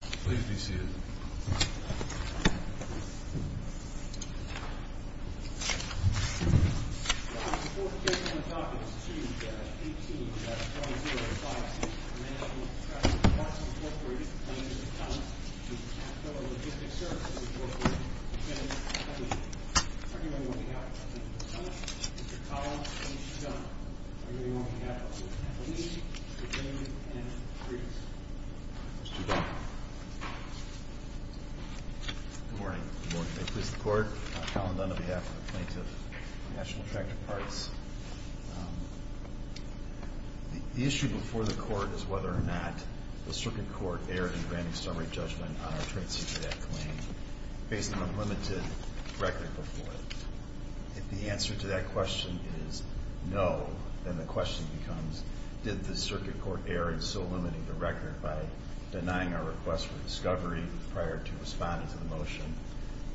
Please be seated. Before we get on the topic, it's 2-18-205-6. Manningham Tractor Parts, Inc. v. Caterpillar Logistics Services, Inc. On behalf of Manningham, Mr. Collins and Mr. Dunn. On behalf of Manningham, Mr. Dunn. Good morning, and greetings. Mr. Dunn. Good morning. Good morning. May it please the Court. Colin Dunn on behalf of the plaintiff of National Tractor Parts. The issue before the Court is whether or not the Circuit Court erred in granting summary judgment on our Trade Secret Act claim based on a limited record before it. If the answer to that question is no, then the question becomes, did the Circuit Court err in so limiting the record by denying our request for discovery prior to responding to the motion,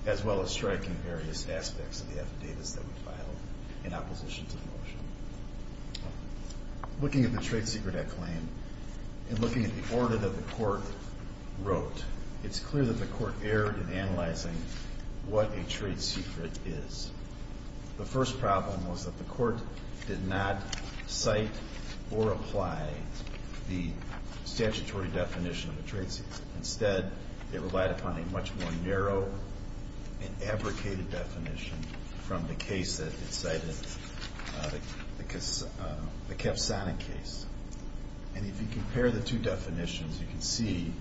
as well as striking various aspects of the affidavits that we filed in opposition to the motion. Looking at the Trade Secret Act claim, and looking at the order that the Court wrote, it's clear that the Court erred in analyzing what a trade secret is. The first problem was that the Court did not cite or apply the statutory definition of a trade secret. The Capsonic case. And if you compare the two definitions, you can see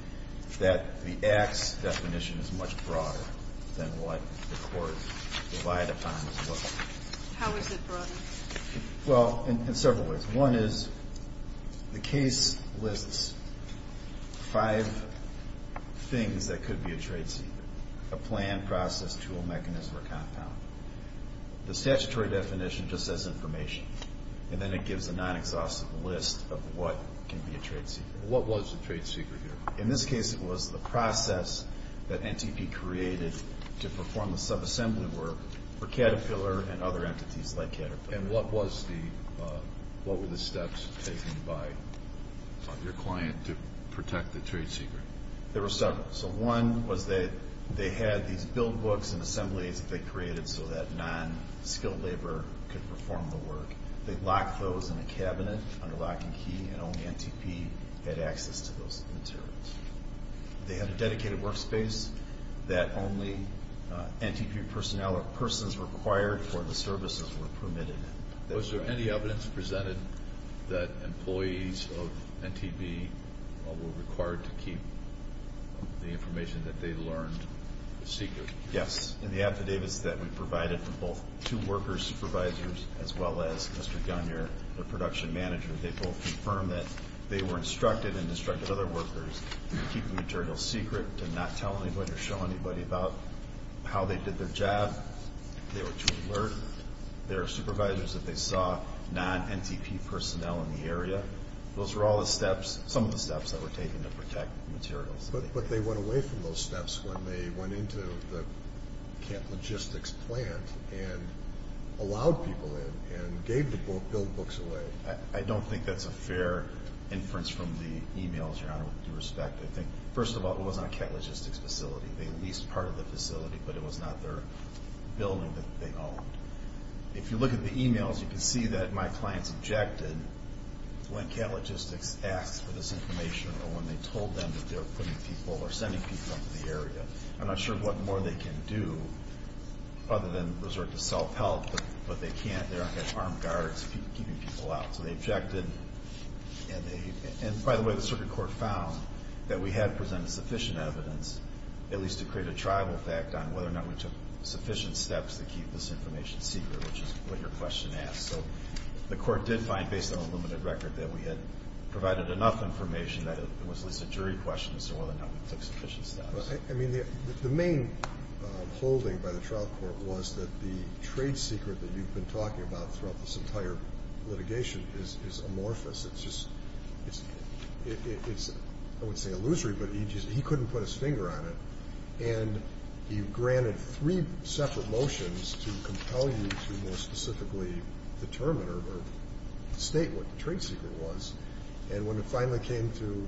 that the Axe definition is much broader than what the Court relied upon as well. How is it broader? Well, in several ways. One is the case lists five things that could be a trade secret. The statutory definition just says information, and then it gives a non-exhaustive list of what can be a trade secret. What was the trade secret here? In this case, it was the process that NTP created to perform the subassembly work for Caterpillar and other entities like Caterpillar. And what were the steps taken by your client to protect the trade secret? There were several. So one was that they had these build books and assemblies that they created so that non-skilled labor could perform the work. They locked those in a cabinet under locking key, and only NTP had access to those materials. They had a dedicated workspace that only NTP personnel or persons required for the services were permitted in. Was there any evidence presented that employees of NTP were required to keep the information that they learned secret? Yes. In the affidavits that we provided for both two workers' supervisors as well as Mr. Gunyer, their production manager, they both confirmed that they were instructed and instructed other workers to keep the material secret, to not tell anybody or show anybody about how they did their job. They were too alert. There were supervisors that they saw, non-NTP personnel in the area. Those were all the steps, some of the steps that were taken to protect materials. But they went away from those steps when they went into the Kent Logistics plant and allowed people in and gave the build books away. I don't think that's a fair inference from the emails, Your Honor, with due respect. I think, first of all, it was not a Kent Logistics facility. They leased part of the facility, but it was not their building that they owned. If you look at the emails, you can see that my clients objected when Kent Logistics asked for this information or when they told them that they were putting people or sending people into the area. I'm not sure what more they can do other than resort to self-help, but they can't. They don't have armed guards keeping people out. So they objected, and by the way, the circuit court found that we had presented sufficient evidence, at least to create a tribal fact on whether or not we took sufficient steps to keep this information secret, which is what your question asked. So the court did find, based on the limited record, that we had provided enough information that it was at least a jury question as to whether or not we took sufficient steps. I mean, the main holding by the trial court was that the trade secret that you've been talking about throughout this entire litigation is amorphous. It's just – it's, I wouldn't say illusory, but he couldn't put his finger on it, and he granted three separate motions to compel you to more specifically determine or state what the trade secret was, and when it finally came to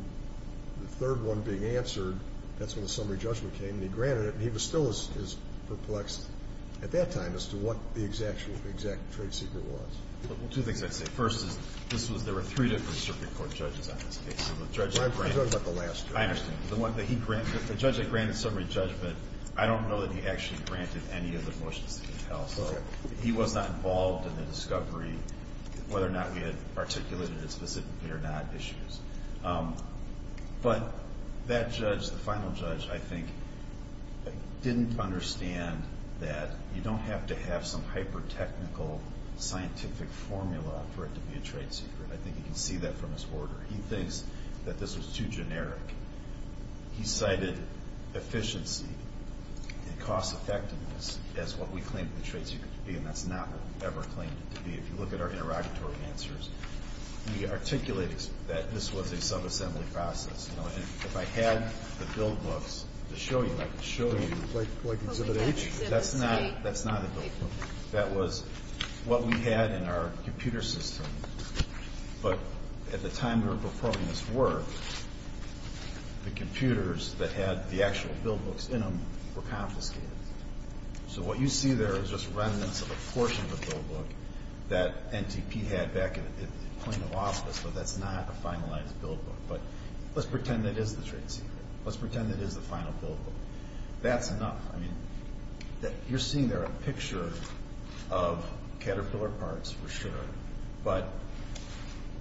the third one being answered, that's when the summary judgment came, and he granted it. And he was still as perplexed at that time as to what the exact trade secret was. Well, two things I'd say. First is this was – there were three different circuit court judges on this case. So the judge that granted – Well, I'm talking about the last judge. I understand. The one that he granted – the judge that granted summary judgment, I don't know that he actually granted any of the motions to compel. Okay. So he was not involved in the discovery, whether or not we had articulated it specifically or not, issues. But that judge, the final judge, I think, didn't understand that you don't have to have some hyper-technical scientific formula for it to be a trade secret. I think you can see that from his order. He thinks that this was too generic. He cited efficiency and cost-effectiveness as what we claimed the trade secret to be, and that's not what we ever claimed it to be. If you look at our interrogatory answers, we articulated that this was a subassembly process. If I had the build books to show you, I could show you. Like exhibit H? That's not a build book. That was what we had in our computer system. But at the time we were performing this work, the computers that had the actual build books in them were confiscated. So what you see there is just remnants of a portion of the build book that NTP had back at the Plano office, but that's not a finalized build book. But let's pretend it is the trade secret. Let's pretend it is the final build book. That's enough. I mean, you're seeing there a picture of caterpillar parts for sure, but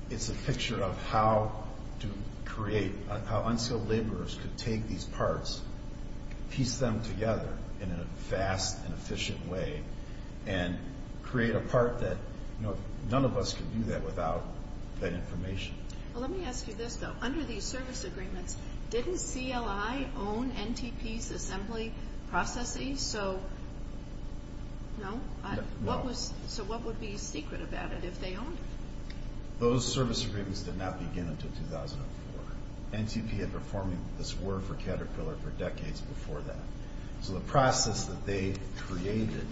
it's a picture of how to create, how unskilled laborers could take these parts, piece them together in a fast and efficient way, and create a part that none of us could do that without that information. Well, let me ask you this, though. Under these service agreements, didn't CLI own NTP's assembly processes? No? No. So what would be secret about it if they owned it? Those service agreements did not begin until 2004. NTP had been performing this work for Caterpillar for decades before that. So the process that they created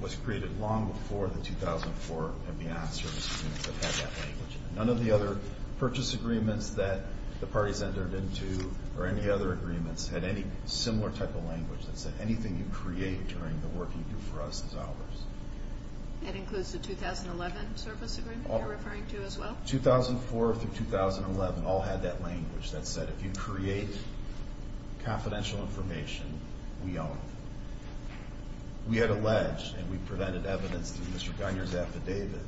was created long before the 2004 and beyond service agreements that had that language. None of the other purchase agreements that the parties entered into or any other agreements had any similar type of language that said anything you create during the work you do for us is ours. That includes the 2011 service agreement you're referring to as well? 2004 through 2011 all had that language that said if you create confidential information, we own it. We had alleged, and we presented evidence to Mr. Gunyer's affidavit,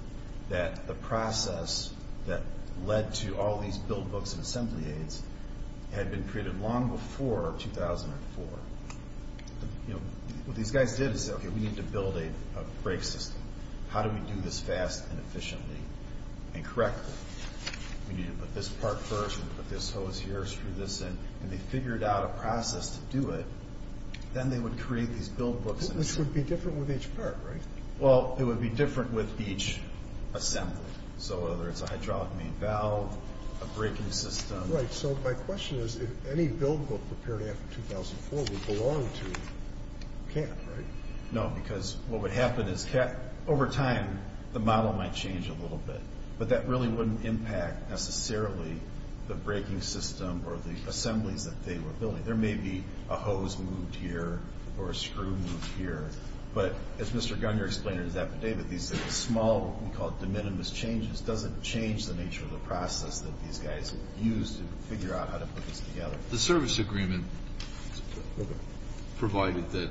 that the process that led to all these build books and assembly aids had been created long before 2004. What these guys did is say, okay, we need to build a brake system. How do we do this fast and efficiently and correctly? We need to put this part first, put this hose here, screw this in, and they figured out a process to do it. Then they would create these build books. Which would be different with each part, right? Well, it would be different with each assembly. So whether it's a hydraulic main valve, a braking system. Right, so my question is if any build book prepared after 2004 would belong to CAT, right? No, because what would happen is over time the model might change a little bit, but that really wouldn't impact necessarily the braking system or the assemblies that they were building. There may be a hose moved here or a screw moved here, but as Mr. Gunyer explained in his affidavit, these small, what we call de minimis changes, doesn't change the nature of the process that these guys used to figure out how to put this together. The service agreement provided that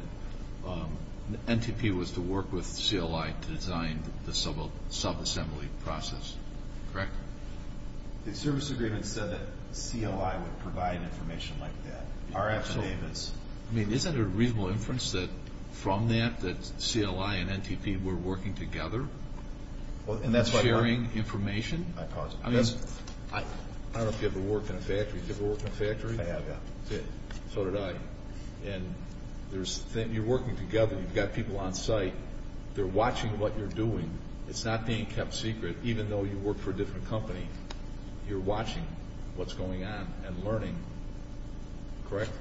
NTP was to work with CLI to design the subassembly process, correct? The service agreement said that CLI would provide information like that. Our affidavits. I mean, isn't it a reasonable inference that from that, that CLI and NTP were working together and sharing information? I don't know if you ever worked in a factory. Did you ever work in a factory? I have, yeah. So did I. And you're working together. You've got people on site. They're watching what you're doing. It's not being kept secret even though you work for a different company. You're watching what's going on and learning, correct?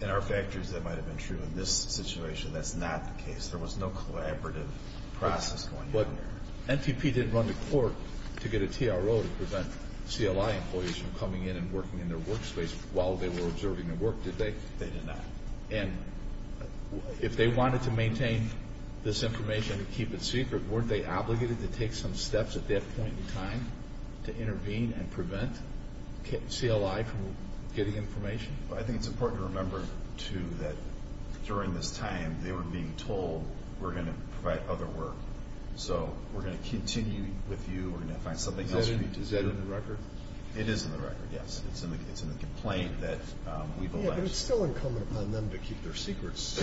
In our factories, that might have been true. In this situation, that's not the case. There was no collaborative process going on there. But NTP didn't run to court to get a TRO to prevent CLI employees from coming in and working in their workspace while they were observing the work, did they? They did not. And if they wanted to maintain this information and keep it secret, weren't they obligated to take some steps at that point in time to intervene and prevent CLI from getting information? I think it's important to remember, too, that during this time, they were being told, we're going to provide other work, so we're going to continue with you. We're going to find something else for you to do. Is that in the record? It is in the record, yes. It's in the complaint that we've alleged. Yeah, but it's still incumbent upon them to keep their secrets.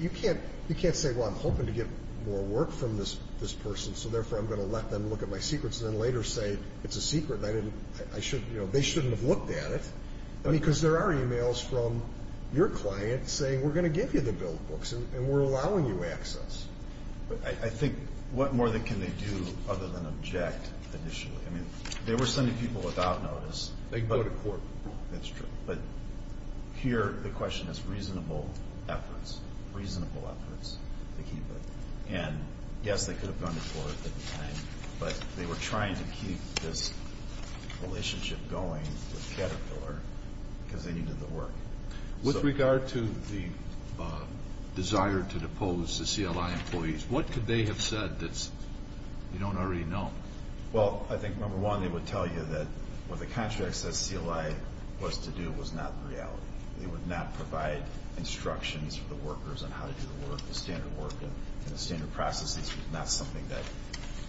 You can't say, well, I'm hoping to get more work from this person, so therefore I'm going to let them look at my secrets and then later say it's a secret. They shouldn't have looked at it. Because there are e-mails from your client saying, we're going to give you the bill books, and we're allowing you access. I think what more can they do other than object initially? They were sending people without notice. They can go to court. That's true. But here the question is reasonable efforts, reasonable efforts to keep it. And, yes, they could have gone to court at the time, but they were trying to keep this relationship going with Caterpillar because they needed the work. With regard to the desire to depose the CLI employees, what could they have said that you don't already know? Well, I think, number one, they would tell you that what the contract says CLI was to do was not the reality. They would not provide instructions for the workers on how to do the work. The standard work and the standard processes was not something that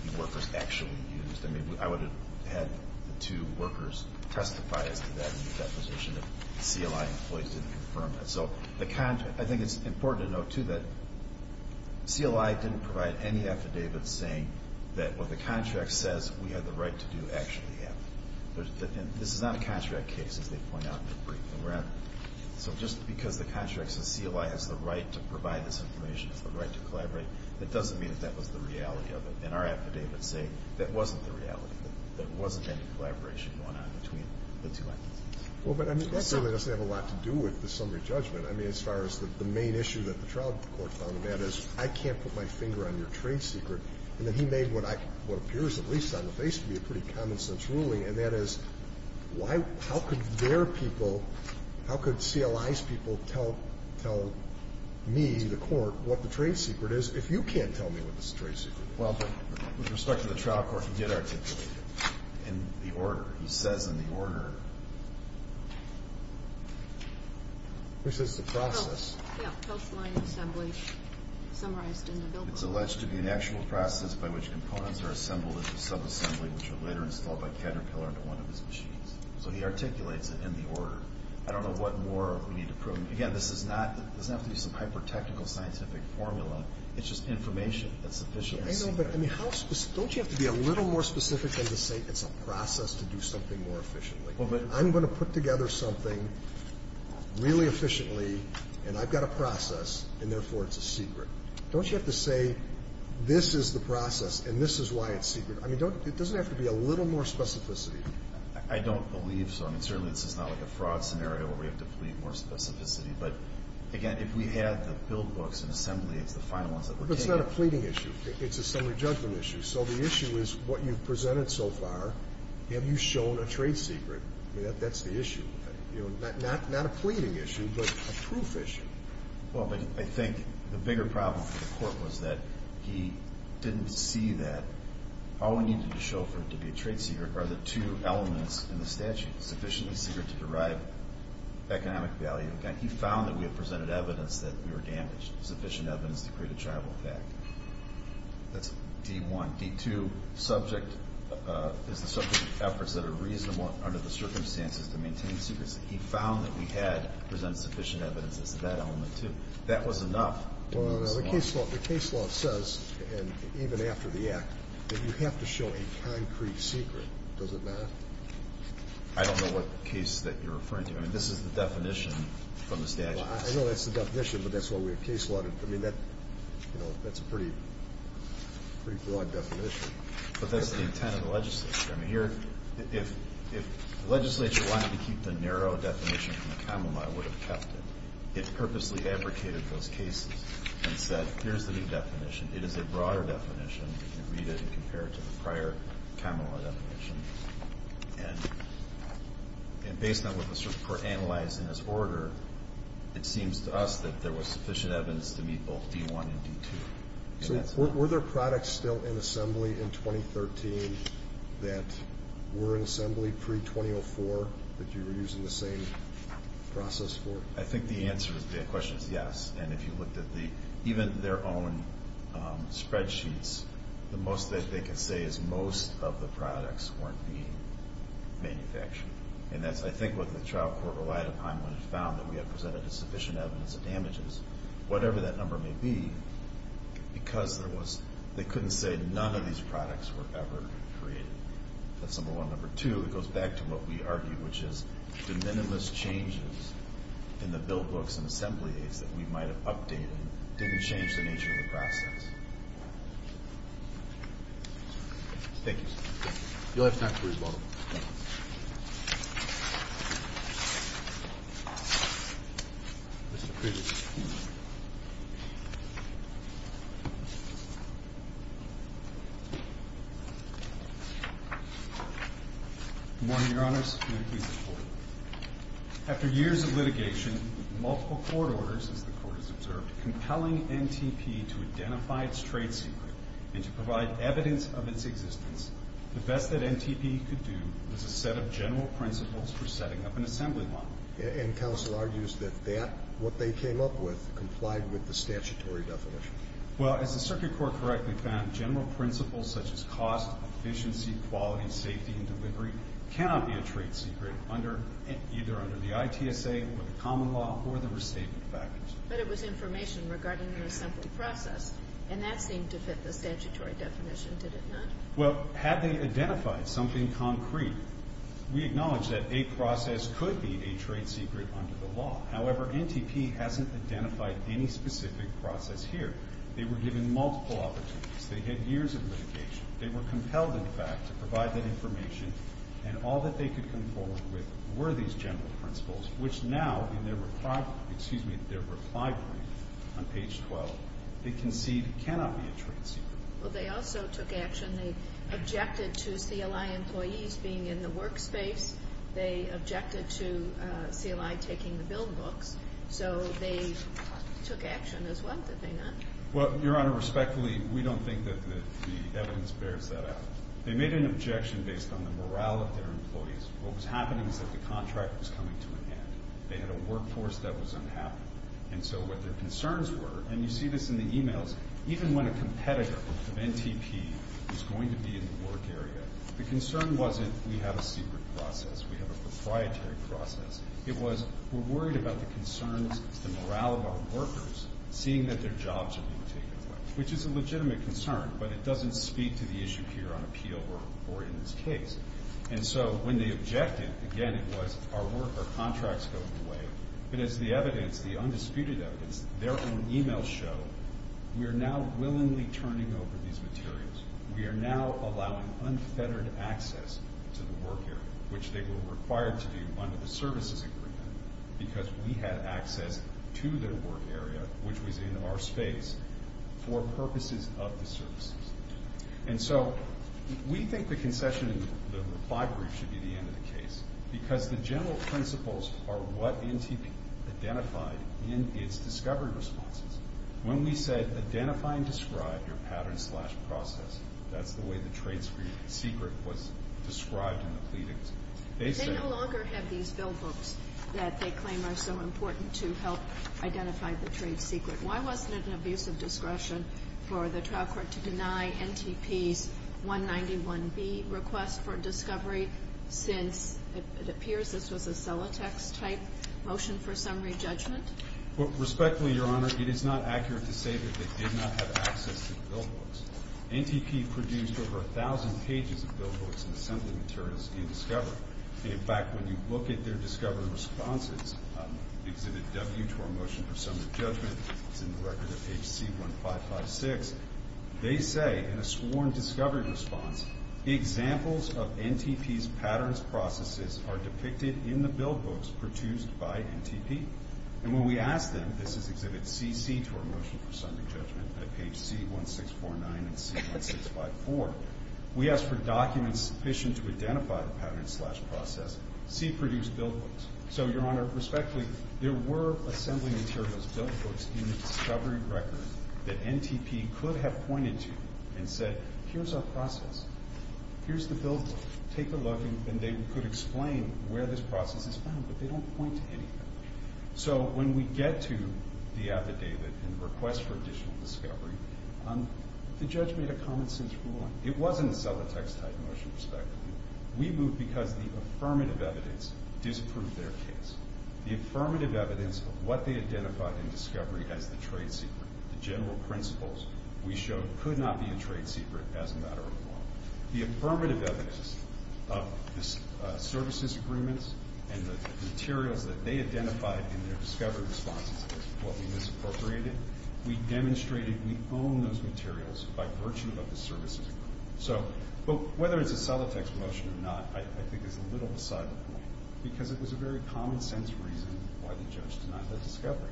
the workers actually used. I mean, I would have had the two workers testify as to that in the deposition if the CLI employees didn't confirm that. So I think it's important to note, too, that CLI didn't provide any affidavits saying that what the contract says we had the right to do actually happened. And this is not a contract case, as they point out in their briefing. So just because the contract says CLI has the right to provide this information, has the right to collaborate, that doesn't mean that that was the reality of it. And our affidavits say that wasn't the reality, that there wasn't any collaboration going on between the two entities. Well, but that certainly doesn't have a lot to do with the summary judgment. I mean, as far as the main issue that the trial court found, that is, I can't put my finger on your trade secret. And then he made what appears, at least on the face of me, a pretty common-sense ruling, and that is, how could their people, how could CLI's people tell me, the court, what the trade secret is if you can't tell me what the trade secret is? Well, but with respect to the trial court, he did articulate it in the order. He says in the order. Which is the process. Yeah, post-line assembly summarized in the bill. It's alleged to be an actual process by which components are assembled into subassembly, which are later installed by Caterpillar into one of his machines. So he articulates it in the order. I don't know what more we need to prove. Again, this doesn't have to be some hyper-technical scientific formula. It's just information that's sufficient. I know, but I mean, don't you have to be a little more specific than to say it's a process to do something more efficiently? Well, but I'm going to put together something really efficiently, and I've got a process, and therefore it's a secret. Don't you have to say this is the process and this is why it's secret? I mean, it doesn't have to be a little more specificity. I don't believe so. I mean, certainly this is not like a fraud scenario where we have to plead more specificity. But, again, if we add the bill books and assembly, it's the final ones that we're taking. But it's not a pleading issue. It's a summary judgment issue. So the issue is what you've presented so far, have you shown a trade secret? I mean, that's the issue. Not a pleading issue, but a proof issue. Well, but I think the bigger problem for the court was that he didn't see that. All we needed to show for it to be a trade secret are the two elements in the statute, sufficiently secret to derive economic value. He found that we had presented evidence that we were damaged, sufficient evidence to create a tribal effect. That's D-1. D-2 is the subject of efforts that are reasonable under the circumstances to maintain secrets. He found that we had presented sufficient evidence as to that element, too. That was enough to move us along. Well, the case law says, and even after the Act, that you have to show a concrete secret. Does it matter? I don't know what case that you're referring to. I mean, this is the definition from the statute. I know that's the definition, but that's why we have case law. I mean, that's a pretty broad definition. But that's the intent of the legislature. I mean, if the legislature wanted to keep the narrow definition from the common law, it would have kept it. It purposely abrogated those cases and said, here's the new definition. It is a broader definition. You can read it and compare it to the prior common law definition. And based on what was analyzed in this order, it seems to us that there was sufficient evidence to meet both D-1 and D-2. So were there products still in assembly in 2013 that were in assembly pre-2004 that you were using the same process for? I think the answer to that question is yes. And if you looked at even their own spreadsheets, the most that they could say is most of the products weren't being manufactured. And that's, I think, what the trial court relied upon when it found that we had presented sufficient evidence of damages, whatever that number may be, because they couldn't say none of these products were ever created. That's number one. Number two, it goes back to what we argued, which is the minimalist changes in the bill books and assemblies that we might have updated didn't change the nature of the process. Thank you. You'll have time for rebuttal. Thank you. Mr. Pritchett. Good morning, Your Honors. May it please the Court. After years of litigation, multiple court orders, as the Court has observed, compelling NTP to identify its trade secret and to provide evidence of its existence, the best that NTP could do was a set of general principles for setting up an assembly model. And counsel argues that that, what they came up with, complied with the statutory definition. Well, as the circuit court correctly found, general principles such as cost, efficiency, quality, safety, and delivery cannot be a trade secret either under the ITSA or the common law or the restatement factors. But it was information regarding an assembly process, and that seemed to fit the statutory definition, did it not? Well, had they identified something concrete, we acknowledge that a process could be a trade secret under the law. However, NTP hasn't identified any specific process here. They were given multiple opportunities. They had years of litigation. They were compelled, in fact, to provide that information, and all that they could come forward with were these general principles, which now, in their reply brief on page 12, they concede cannot be a trade secret. Well, they also took action. They objected to CLI employees being in the workspace. They objected to CLI taking the bill books. So they took action as well, did they not? Well, Your Honor, respectfully, we don't think that the evidence bears that out. They made an objection based on the morale of their employees. What was happening is that the contract was coming to an end. They had a workforce that was unhappy. Even when a competitor of NTP was going to be in the work area, the concern wasn't we have a secret process, we have a proprietary process. It was we're worried about the concerns, the morale of our workers, seeing that their jobs are being taken away, which is a legitimate concern, but it doesn't speak to the issue here on appeal or in this case. And so when they objected, again, it was our contracts going away. But as the evidence, the undisputed evidence, their own e-mails show, we are now willingly turning over these materials. We are now allowing unfettered access to the work area, which they were required to do under the services agreement because we had access to their work area, which was in our space, for purposes of the services. And so we think the concession in the reply brief should be the end of the case because the general principles are what NTP identified in its discovery responses. When we said identify and describe your pattern slash process, that's the way the trade secret was described in the pleadings. They no longer have these bill books that they claim are so important to help identify the trade secret. Why wasn't it an abuse of discretion for the trial court to deny NTP's 191B request for discovery since it appears this was a Celotex type motion for summary judgment? Respectfully, Your Honor, it is not accurate to say that they did not have access to the bill books. NTP produced over 1,000 pages of bill books and assembly materials in discovery. In fact, when you look at their discovery responses, Exhibit W to our motion for summary judgment, it's in the record of HC 1556. They say in a sworn discovery response, examples of NTP's patterns processes are depicted in the bill books produced by NTP. And when we asked them, this is Exhibit C, C to our motion for summary judgment, at page C1649 and C1654, we asked for documents sufficient to identify the pattern slash process. C produced bill books. So, Your Honor, respectfully, there were assembly materials, bill books in the discovery record that NTP could have pointed to and said, here's our process. Here's the bill book. Take a look. And they could explain where this process is found, but they don't point to anything. So when we get to the affidavit and request for additional discovery, the judge made a common-sense ruling. It wasn't a Celotex type motion, respectfully. We moved because the affirmative evidence disproved their case. The affirmative evidence of what they identified in discovery as the trade secret, the general principles we showed could not be a trade secret as a matter of law. The affirmative evidence of the services agreements and the materials that they identified in their discovery responses as what we misappropriated, we demonstrated we own those materials by virtue of the services agreement. So whether it's a Celotex motion or not, I think there's a little beside the point because it was a very common-sense reason why the judge denied their discovery.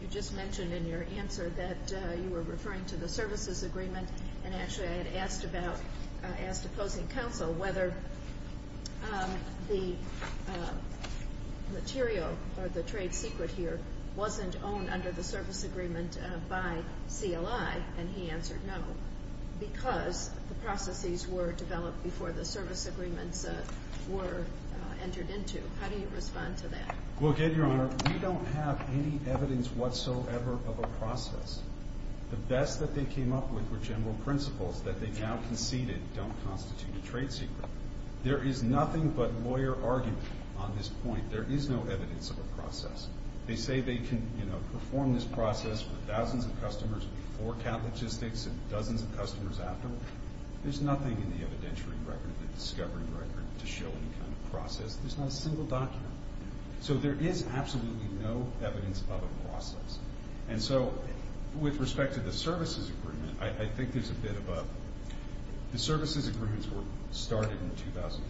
You just mentioned in your answer that you were referring to the services agreement, and actually I had asked opposing counsel whether the material or the trade secret here wasn't owned under the service agreement by CLI, and he answered no, because the processes were developed before the service agreements were entered into. How do you respond to that? Well, again, Your Honor, we don't have any evidence whatsoever of a process. The best that they came up with were general principles that they now conceded don't constitute a trade secret. There is nothing but lawyer argument on this point. There is no evidence of a process. They say they can perform this process for thousands of customers and forecount logistics and dozens of customers afterward. There's nothing in the evidentiary record, the discovery record, to show any kind of process. There's not a single document. So there is absolutely no evidence of a process. And so with respect to the services agreement, I think there's a bit of a— the services agreements were started in 2004.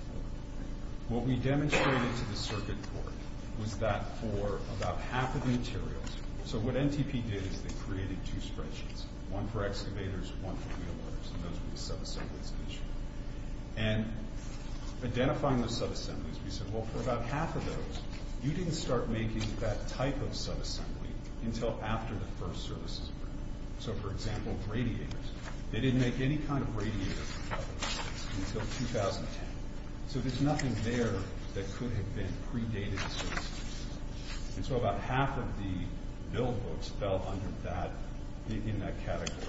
What we demonstrated to the circuit court was that for about half of the materials— so what NTP did is they created two spreadsheets, one for excavators, one for wheelbarrows, and those were the subassemblies initially. And identifying the subassemblies, we said, well, for about half of those, you didn't start making that type of subassembly until after the first services agreement. So, for example, radiators. They didn't make any kind of radiator until 2010. So there's nothing there that could have been predated the services agreement. And so about half of the build books fell under that—in that category.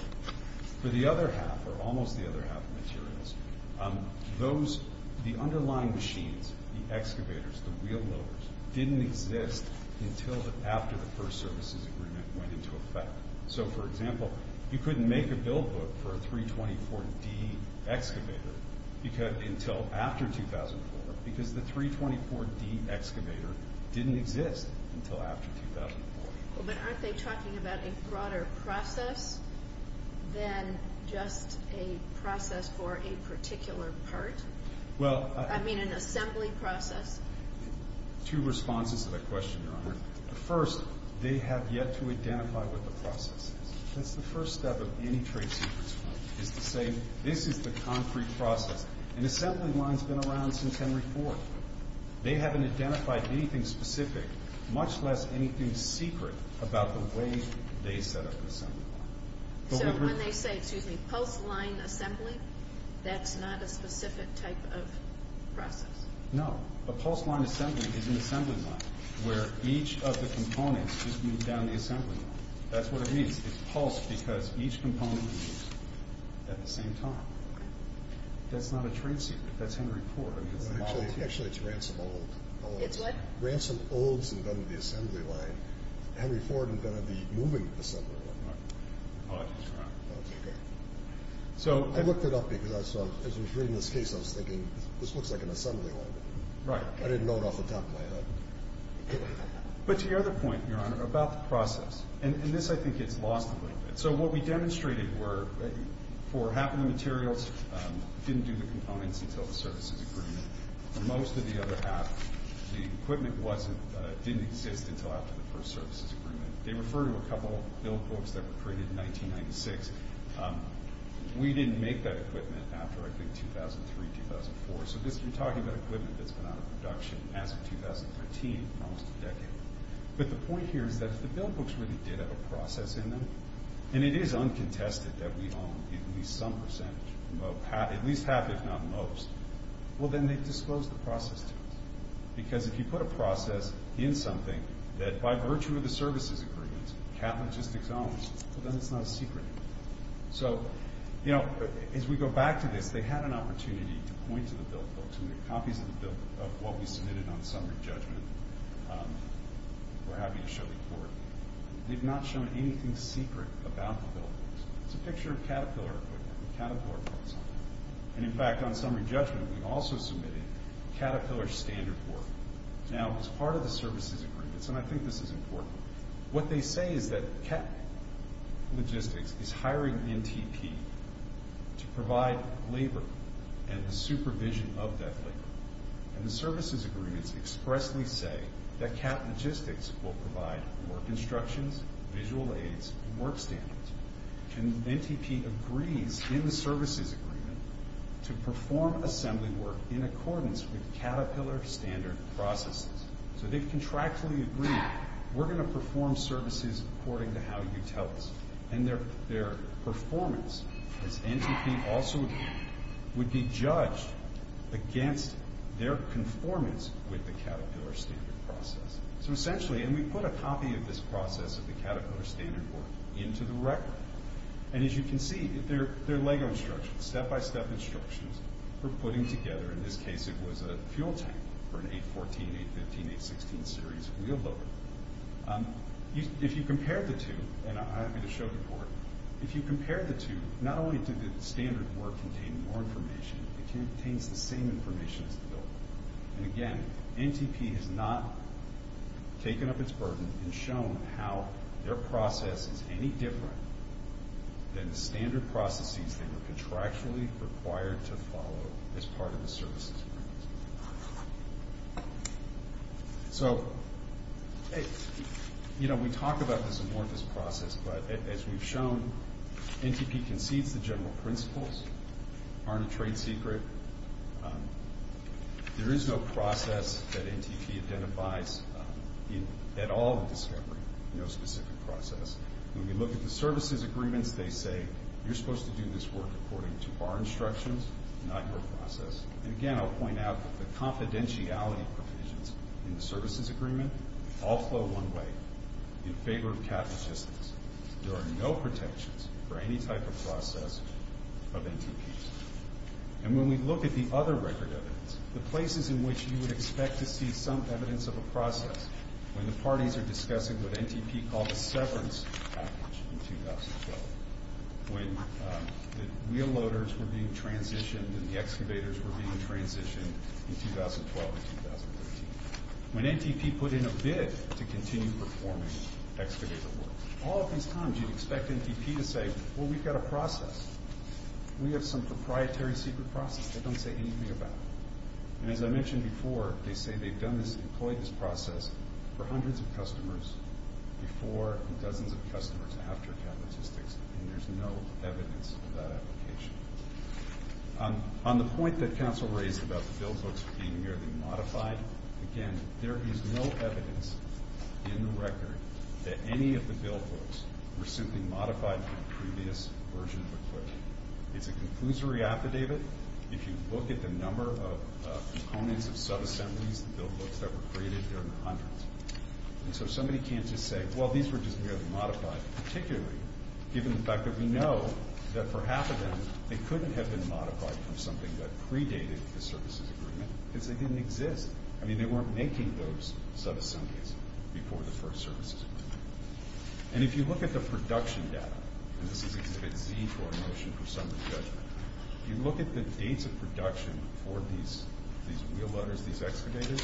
For the other half, or almost the other half of materials, those—the underlying machines, the excavators, the wheelbarrows, didn't exist until after the first services agreement went into effect. So, for example, you couldn't make a build book for a 324D excavator until after 2004 because the 324D excavator didn't exist until after 2004. Well, but aren't they talking about a broader process than just a process for a particular part? Well— I mean, an assembly process. Two responses to that question, Your Honor. First, they have yet to identify what the process is. That's the first step of any trade secrets fund, is to say, this is the concrete process. An assembly line's been around since Henry Ford. They haven't identified anything specific, much less anything secret, about the way they set up an assembly line. So when they say, excuse me, pulse line assembly, that's not a specific type of process? No. A pulse line assembly is an assembly line where each of the components just move down the assembly line. That's what it means. It's pulsed because each component moves at the same time. That's not a trade secret. That's Henry Ford. Actually, it's Ransom Olds. It's what? Ransom Olds invented the assembly line. Henry Ford invented the moving assembly line. Oh, I just forgot. That's okay. I looked it up because as I was reading this case, I was thinking, this looks like an assembly line. Right. I didn't know it off the top of my head. But to your other point, Your Honor, about the process, and this I think gets lost a little bit. So what we demonstrated were for half of the materials, didn't do the components until the services agreement. For most of the other half, the equipment didn't exist until after the first services agreement. They refer to a couple of build books that were created in 1996. We didn't make that equipment after, I think, 2003, 2004. So we're talking about equipment that's been out of production as of 2013, almost a decade. But the point here is that if the build books really did have a process in them, and it is uncontested that we own at least some percentage, at least half if not most, well, then they've disclosed the process to us. Because if you put a process in something that by virtue of the services agreement, CAT Logistics owns, well, then it's not a secret. So, you know, as we go back to this, they had an opportunity to point to the build books and the copies of what we submitted on summary judgment. We're happy to show the court. They've not shown anything secret about the build books. It's a picture of Caterpillar equipment, Caterpillar parts. And, in fact, on summary judgment, we also submitted Caterpillar standard work. Now, as part of the services agreements, and I think this is important, what they say is that CAT Logistics is hiring NTP to provide labor and the supervision of that labor. And the services agreements expressly say that CAT Logistics will provide work instructions, visual aids, work standards. And NTP agrees in the services agreement to perform assembly work in accordance with Caterpillar standard processes. So they've contractually agreed, we're going to perform services according to how you tell us. And their performance, as NTP also agreed, would be judged against their conformance with the Caterpillar standard process. So, essentially, and we put a copy of this process of the Caterpillar standard work into the record. And, as you can see, they're LEGO instructions, step-by-step instructions for putting together, in this case, it was a fuel tank for an 814, 815, 816 series wheel loader. If you compare the two, and I'm happy to show the board, if you compare the two, not only did the standard work contain more information, it contains the same information as the building. And, again, NTP has not taken up its burden and shown how their process is any different than the standard processes they were contractually required to follow as part of the services agreement. So, hey, you know, we talk about this in more of this process, but as we've shown, NTP concedes the general principles, aren't a trade secret. There is no process that NTP identifies at all in discovery, no specific process. When we look at the services agreements, they say, you're supposed to do this work according to our instructions, not your process. And, again, I'll point out the confidentiality provisions in the services agreement all flow one way, in favor of cap logistics. There are no protections for any type of process of NTPs. And when we look at the other record evidence, the places in which you would expect to see some evidence of a process, when the parties are discussing what NTP called a severance package in 2012, when the wheel loaders were being transitioned and the excavators were being transitioned in 2012 and 2013, when NTP put in a bid to continue performing excavator work, all of these times you'd expect NTP to say, well, we've got a process. We have some proprietary secret process they don't say anything about. And as I mentioned before, they say they've employed this process for hundreds of customers before and dozens of customers after cap logistics, and there's no evidence of that application. On the point that counsel raised about the bill books being nearly modified, again, there is no evidence in the record that any of the bill books were simply modified from a previous version of equipment. It's a conclusory affidavit. If you look at the number of components of subassemblies, the bill books that were created, there are hundreds. And so somebody can't just say, well, these were just nearly modified, particularly given the fact that we know that for half of them they couldn't have been modified from something that predated the services agreement because they didn't exist. I mean, they weren't making those subassemblies before the first services agreement. And if you look at the production data, and this is exhibit Z for a motion for summary judgment, you look at the dates of production for these wheelbarrows, these excavators,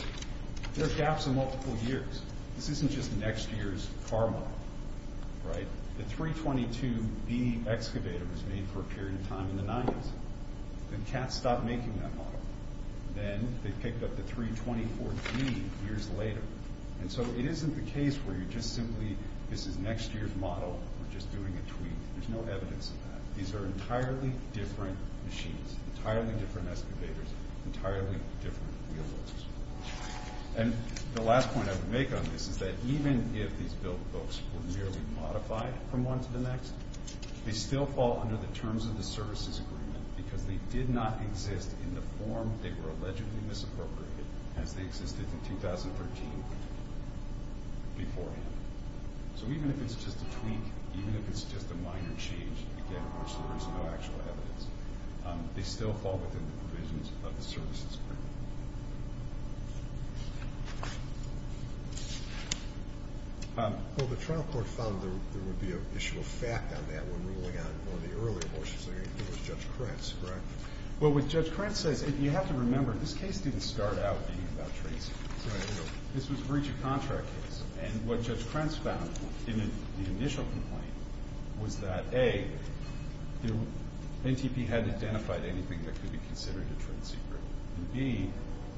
there are gaps in multiple years. This isn't just next year's car model, right? The 322B excavator was made for a period of time in the 90s. Then CAT stopped making that model. Then they picked up the 324B years later. And so it isn't the case where you're just simply, this is next year's model, we're just doing a tweak. There's no evidence of that. These are entirely different machines, entirely different excavators, entirely different wheelbarrows. And the last point I would make on this is that even if these built boats were merely modified from one to the next, they still fall under the terms of the services agreement because they did not exist in the form they were allegedly misappropriated as they existed in 2013 beforehand. So even if it's just a tweak, even if it's just a minor change, again, there's no actual evidence, they still fall within the provisions of the services agreement. Well, the trial court found there would be an issue of fact on that when ruling on one of the earlier motions. I think it was Judge Krentz, correct? Well, what Judge Krentz says, you have to remember, this case didn't start out being about tracing. This was a breach of contract case. And what Judge Krentz found in the initial complaint was that, A, NTP hadn't identified anything that could be considered a trade secret, and, B,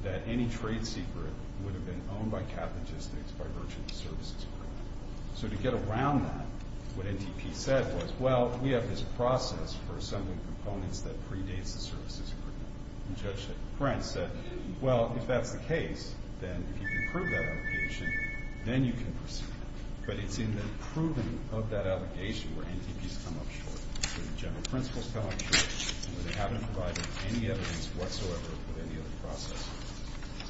that any trade secret would have been owned by Cap Logistics by virtue of the services agreement. So to get around that, what NTP said was, well, we have this process for assembling components that predates the services agreement. And Judge Krentz said, well, if that's the case, then if you can prove that allegation, then you can proceed. But it's in the proving of that allegation where NTPs come up short, where the general principles come up short, and where they haven't provided any evidence whatsoever of any other process.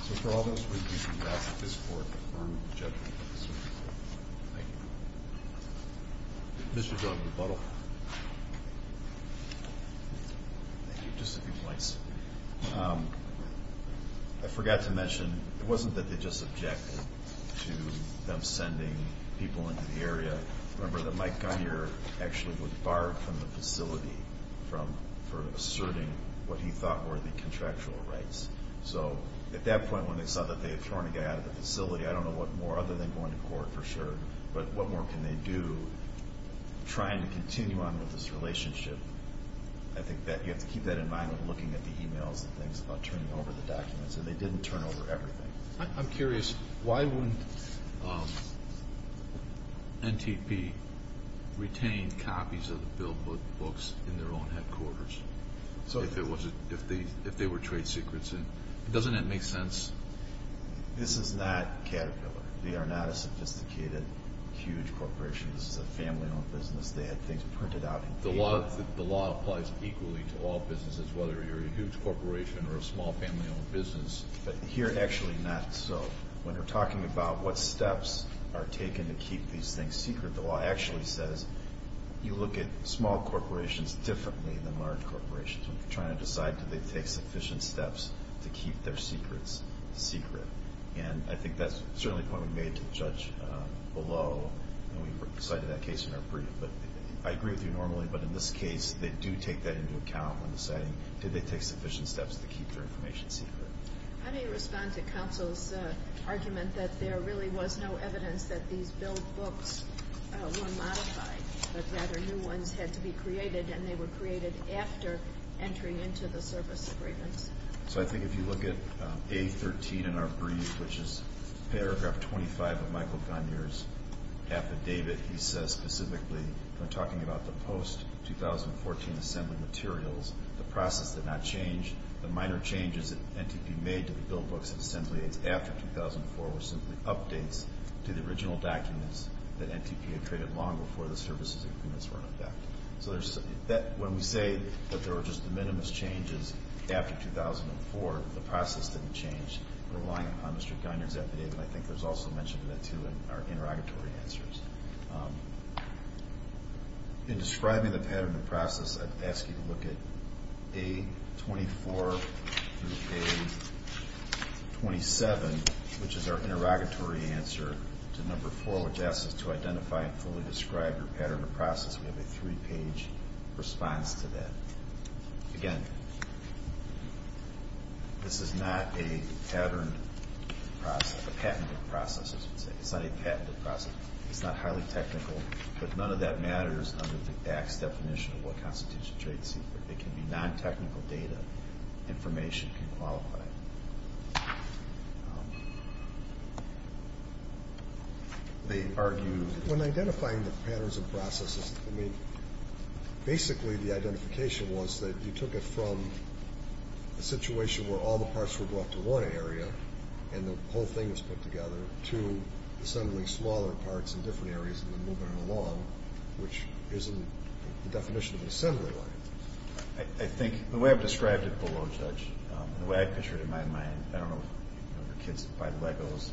So for all those reasons, I ask that this Court affirm the judgment of this case. Thank you. Mr. Jordan, rebuttal. Thank you. Just a few points. I forgot to mention, it wasn't that they just objected to them sending people into the area. Remember that Mike Gunyer actually was barred from the facility for asserting what he thought were the contractual rights. So at that point, when they saw that they had thrown a guy out of the facility, I don't know what more, other than going to court, for sure, but what more can they do trying to continue on with this relationship? I think that you have to keep that in mind when looking at the e-mails and things about turning over the documents, and they didn't turn over everything. I'm curious. Why wouldn't NTP retain copies of the bill books in their own headquarters if they were trade secrets? Doesn't that make sense? This is not Caterpillar. They are not a sophisticated, huge corporation. This is a family-owned business. They had things printed out. The law applies equally to all businesses, whether you're a huge corporation or a small family-owned business. But here, actually not so. When you're talking about what steps are taken to keep these things secret, the law actually says you look at small corporations differently than large corporations when you're trying to decide do they take sufficient steps to keep their secrets secret. And I think that's certainly a point we made to the judge below when we cited that case in our brief. I agree with you normally, but in this case, they do take that into account when deciding do they take sufficient steps to keep their information secret. How do you respond to counsel's argument that there really was no evidence that these bill books were modified, that rather new ones had to be created, and they were created after entering into the service agreements? I think if you look at A13 in our brief, which is paragraph 25 of Michael Garnier's affidavit, he says specifically when talking about the post-2014 assembly materials, the process did not change. The minor changes that NTP made to the bill books and assembly aids after 2004 were simply updates to the original documents that NTP had created long before the services agreements were in effect. So when we say that there were just the minimum changes after 2004, the process didn't change, relying upon Mr. Garnier's affidavit. And I think there's also mention of that, too, in our interrogatory answers. In describing the pattern of process, I'd ask you to look at A24 through A27, which is our interrogatory answer to number 4, which asks us to identify and fully describe your pattern of process. We have a three-page response to that. Again, this is not a patterned process, a patented process, I should say. It's not a patented process. It's not highly technical, but none of that matters under the ACTS definition of what constitutes a trade secret. It can be non-technical data. Information can qualify. They argue when identifying the patterns of processes, I mean, basically the identification was that you took it from a situation where all the parts were brought to one area and the whole thing was put together to assembling smaller parts in different areas and then moving it along, which isn't the definition of an assembly line. I think the way I've described it below, Judge, and the way I picture it in my mind, I don't know if you know the kids that buy Legos.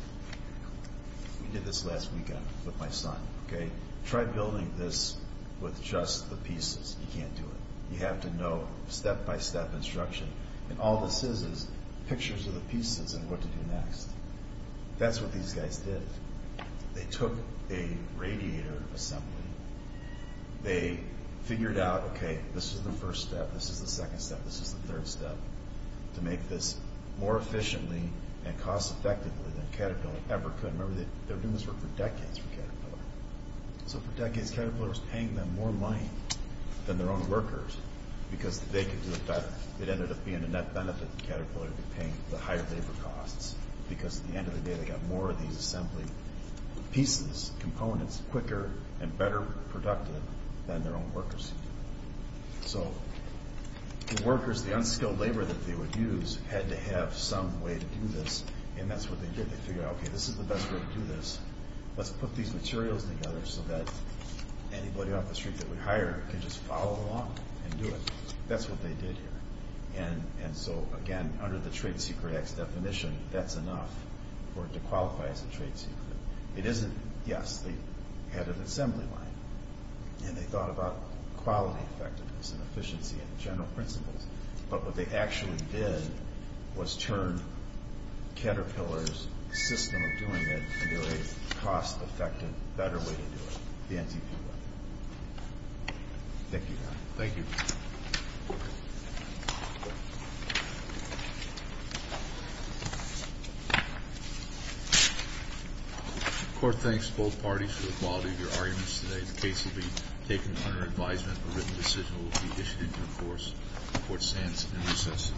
We did this last weekend with my son. Try building this with just the pieces. You can't do it. You have to know step-by-step instruction, and all this is is pictures of the pieces and what to do next. That's what these guys did. They took a radiator assembly. They figured out, okay, this is the first step, this is the second step, this is the third step, to make this more efficiently and cost-effectively than Caterpillar ever could. Remember, they were doing this work for decades for Caterpillar. So for decades, Caterpillar was paying them more money than their own workers because they could do it better. It ended up being a net benefit to Caterpillar to be paying the higher labor costs because at the end of the day, they got more of these assembly pieces, components, quicker and better productive than their own workers. So the workers, the unskilled labor that they would use, had to have some way to do this, and that's what they did. They figured out, okay, this is the best way to do this. Let's put these materials together so that anybody off the street that we hire can just follow along and do it. That's what they did here. So again, under the Trade Secret Act's definition, that's enough for it to qualify as a trade secret. It isn't. Yes, they had an assembly line, and they thought about quality effectiveness and efficiency and general principles, but what they actually did was turn Caterpillar's system of doing it into a cost-effective, better way to do it, the NTP way. Thank you, Your Honor. Thank you. The Court thanks both parties for the quality of your arguments today. The case will be taken under advisement. A written decision will be issued into force. The Court stands in recess.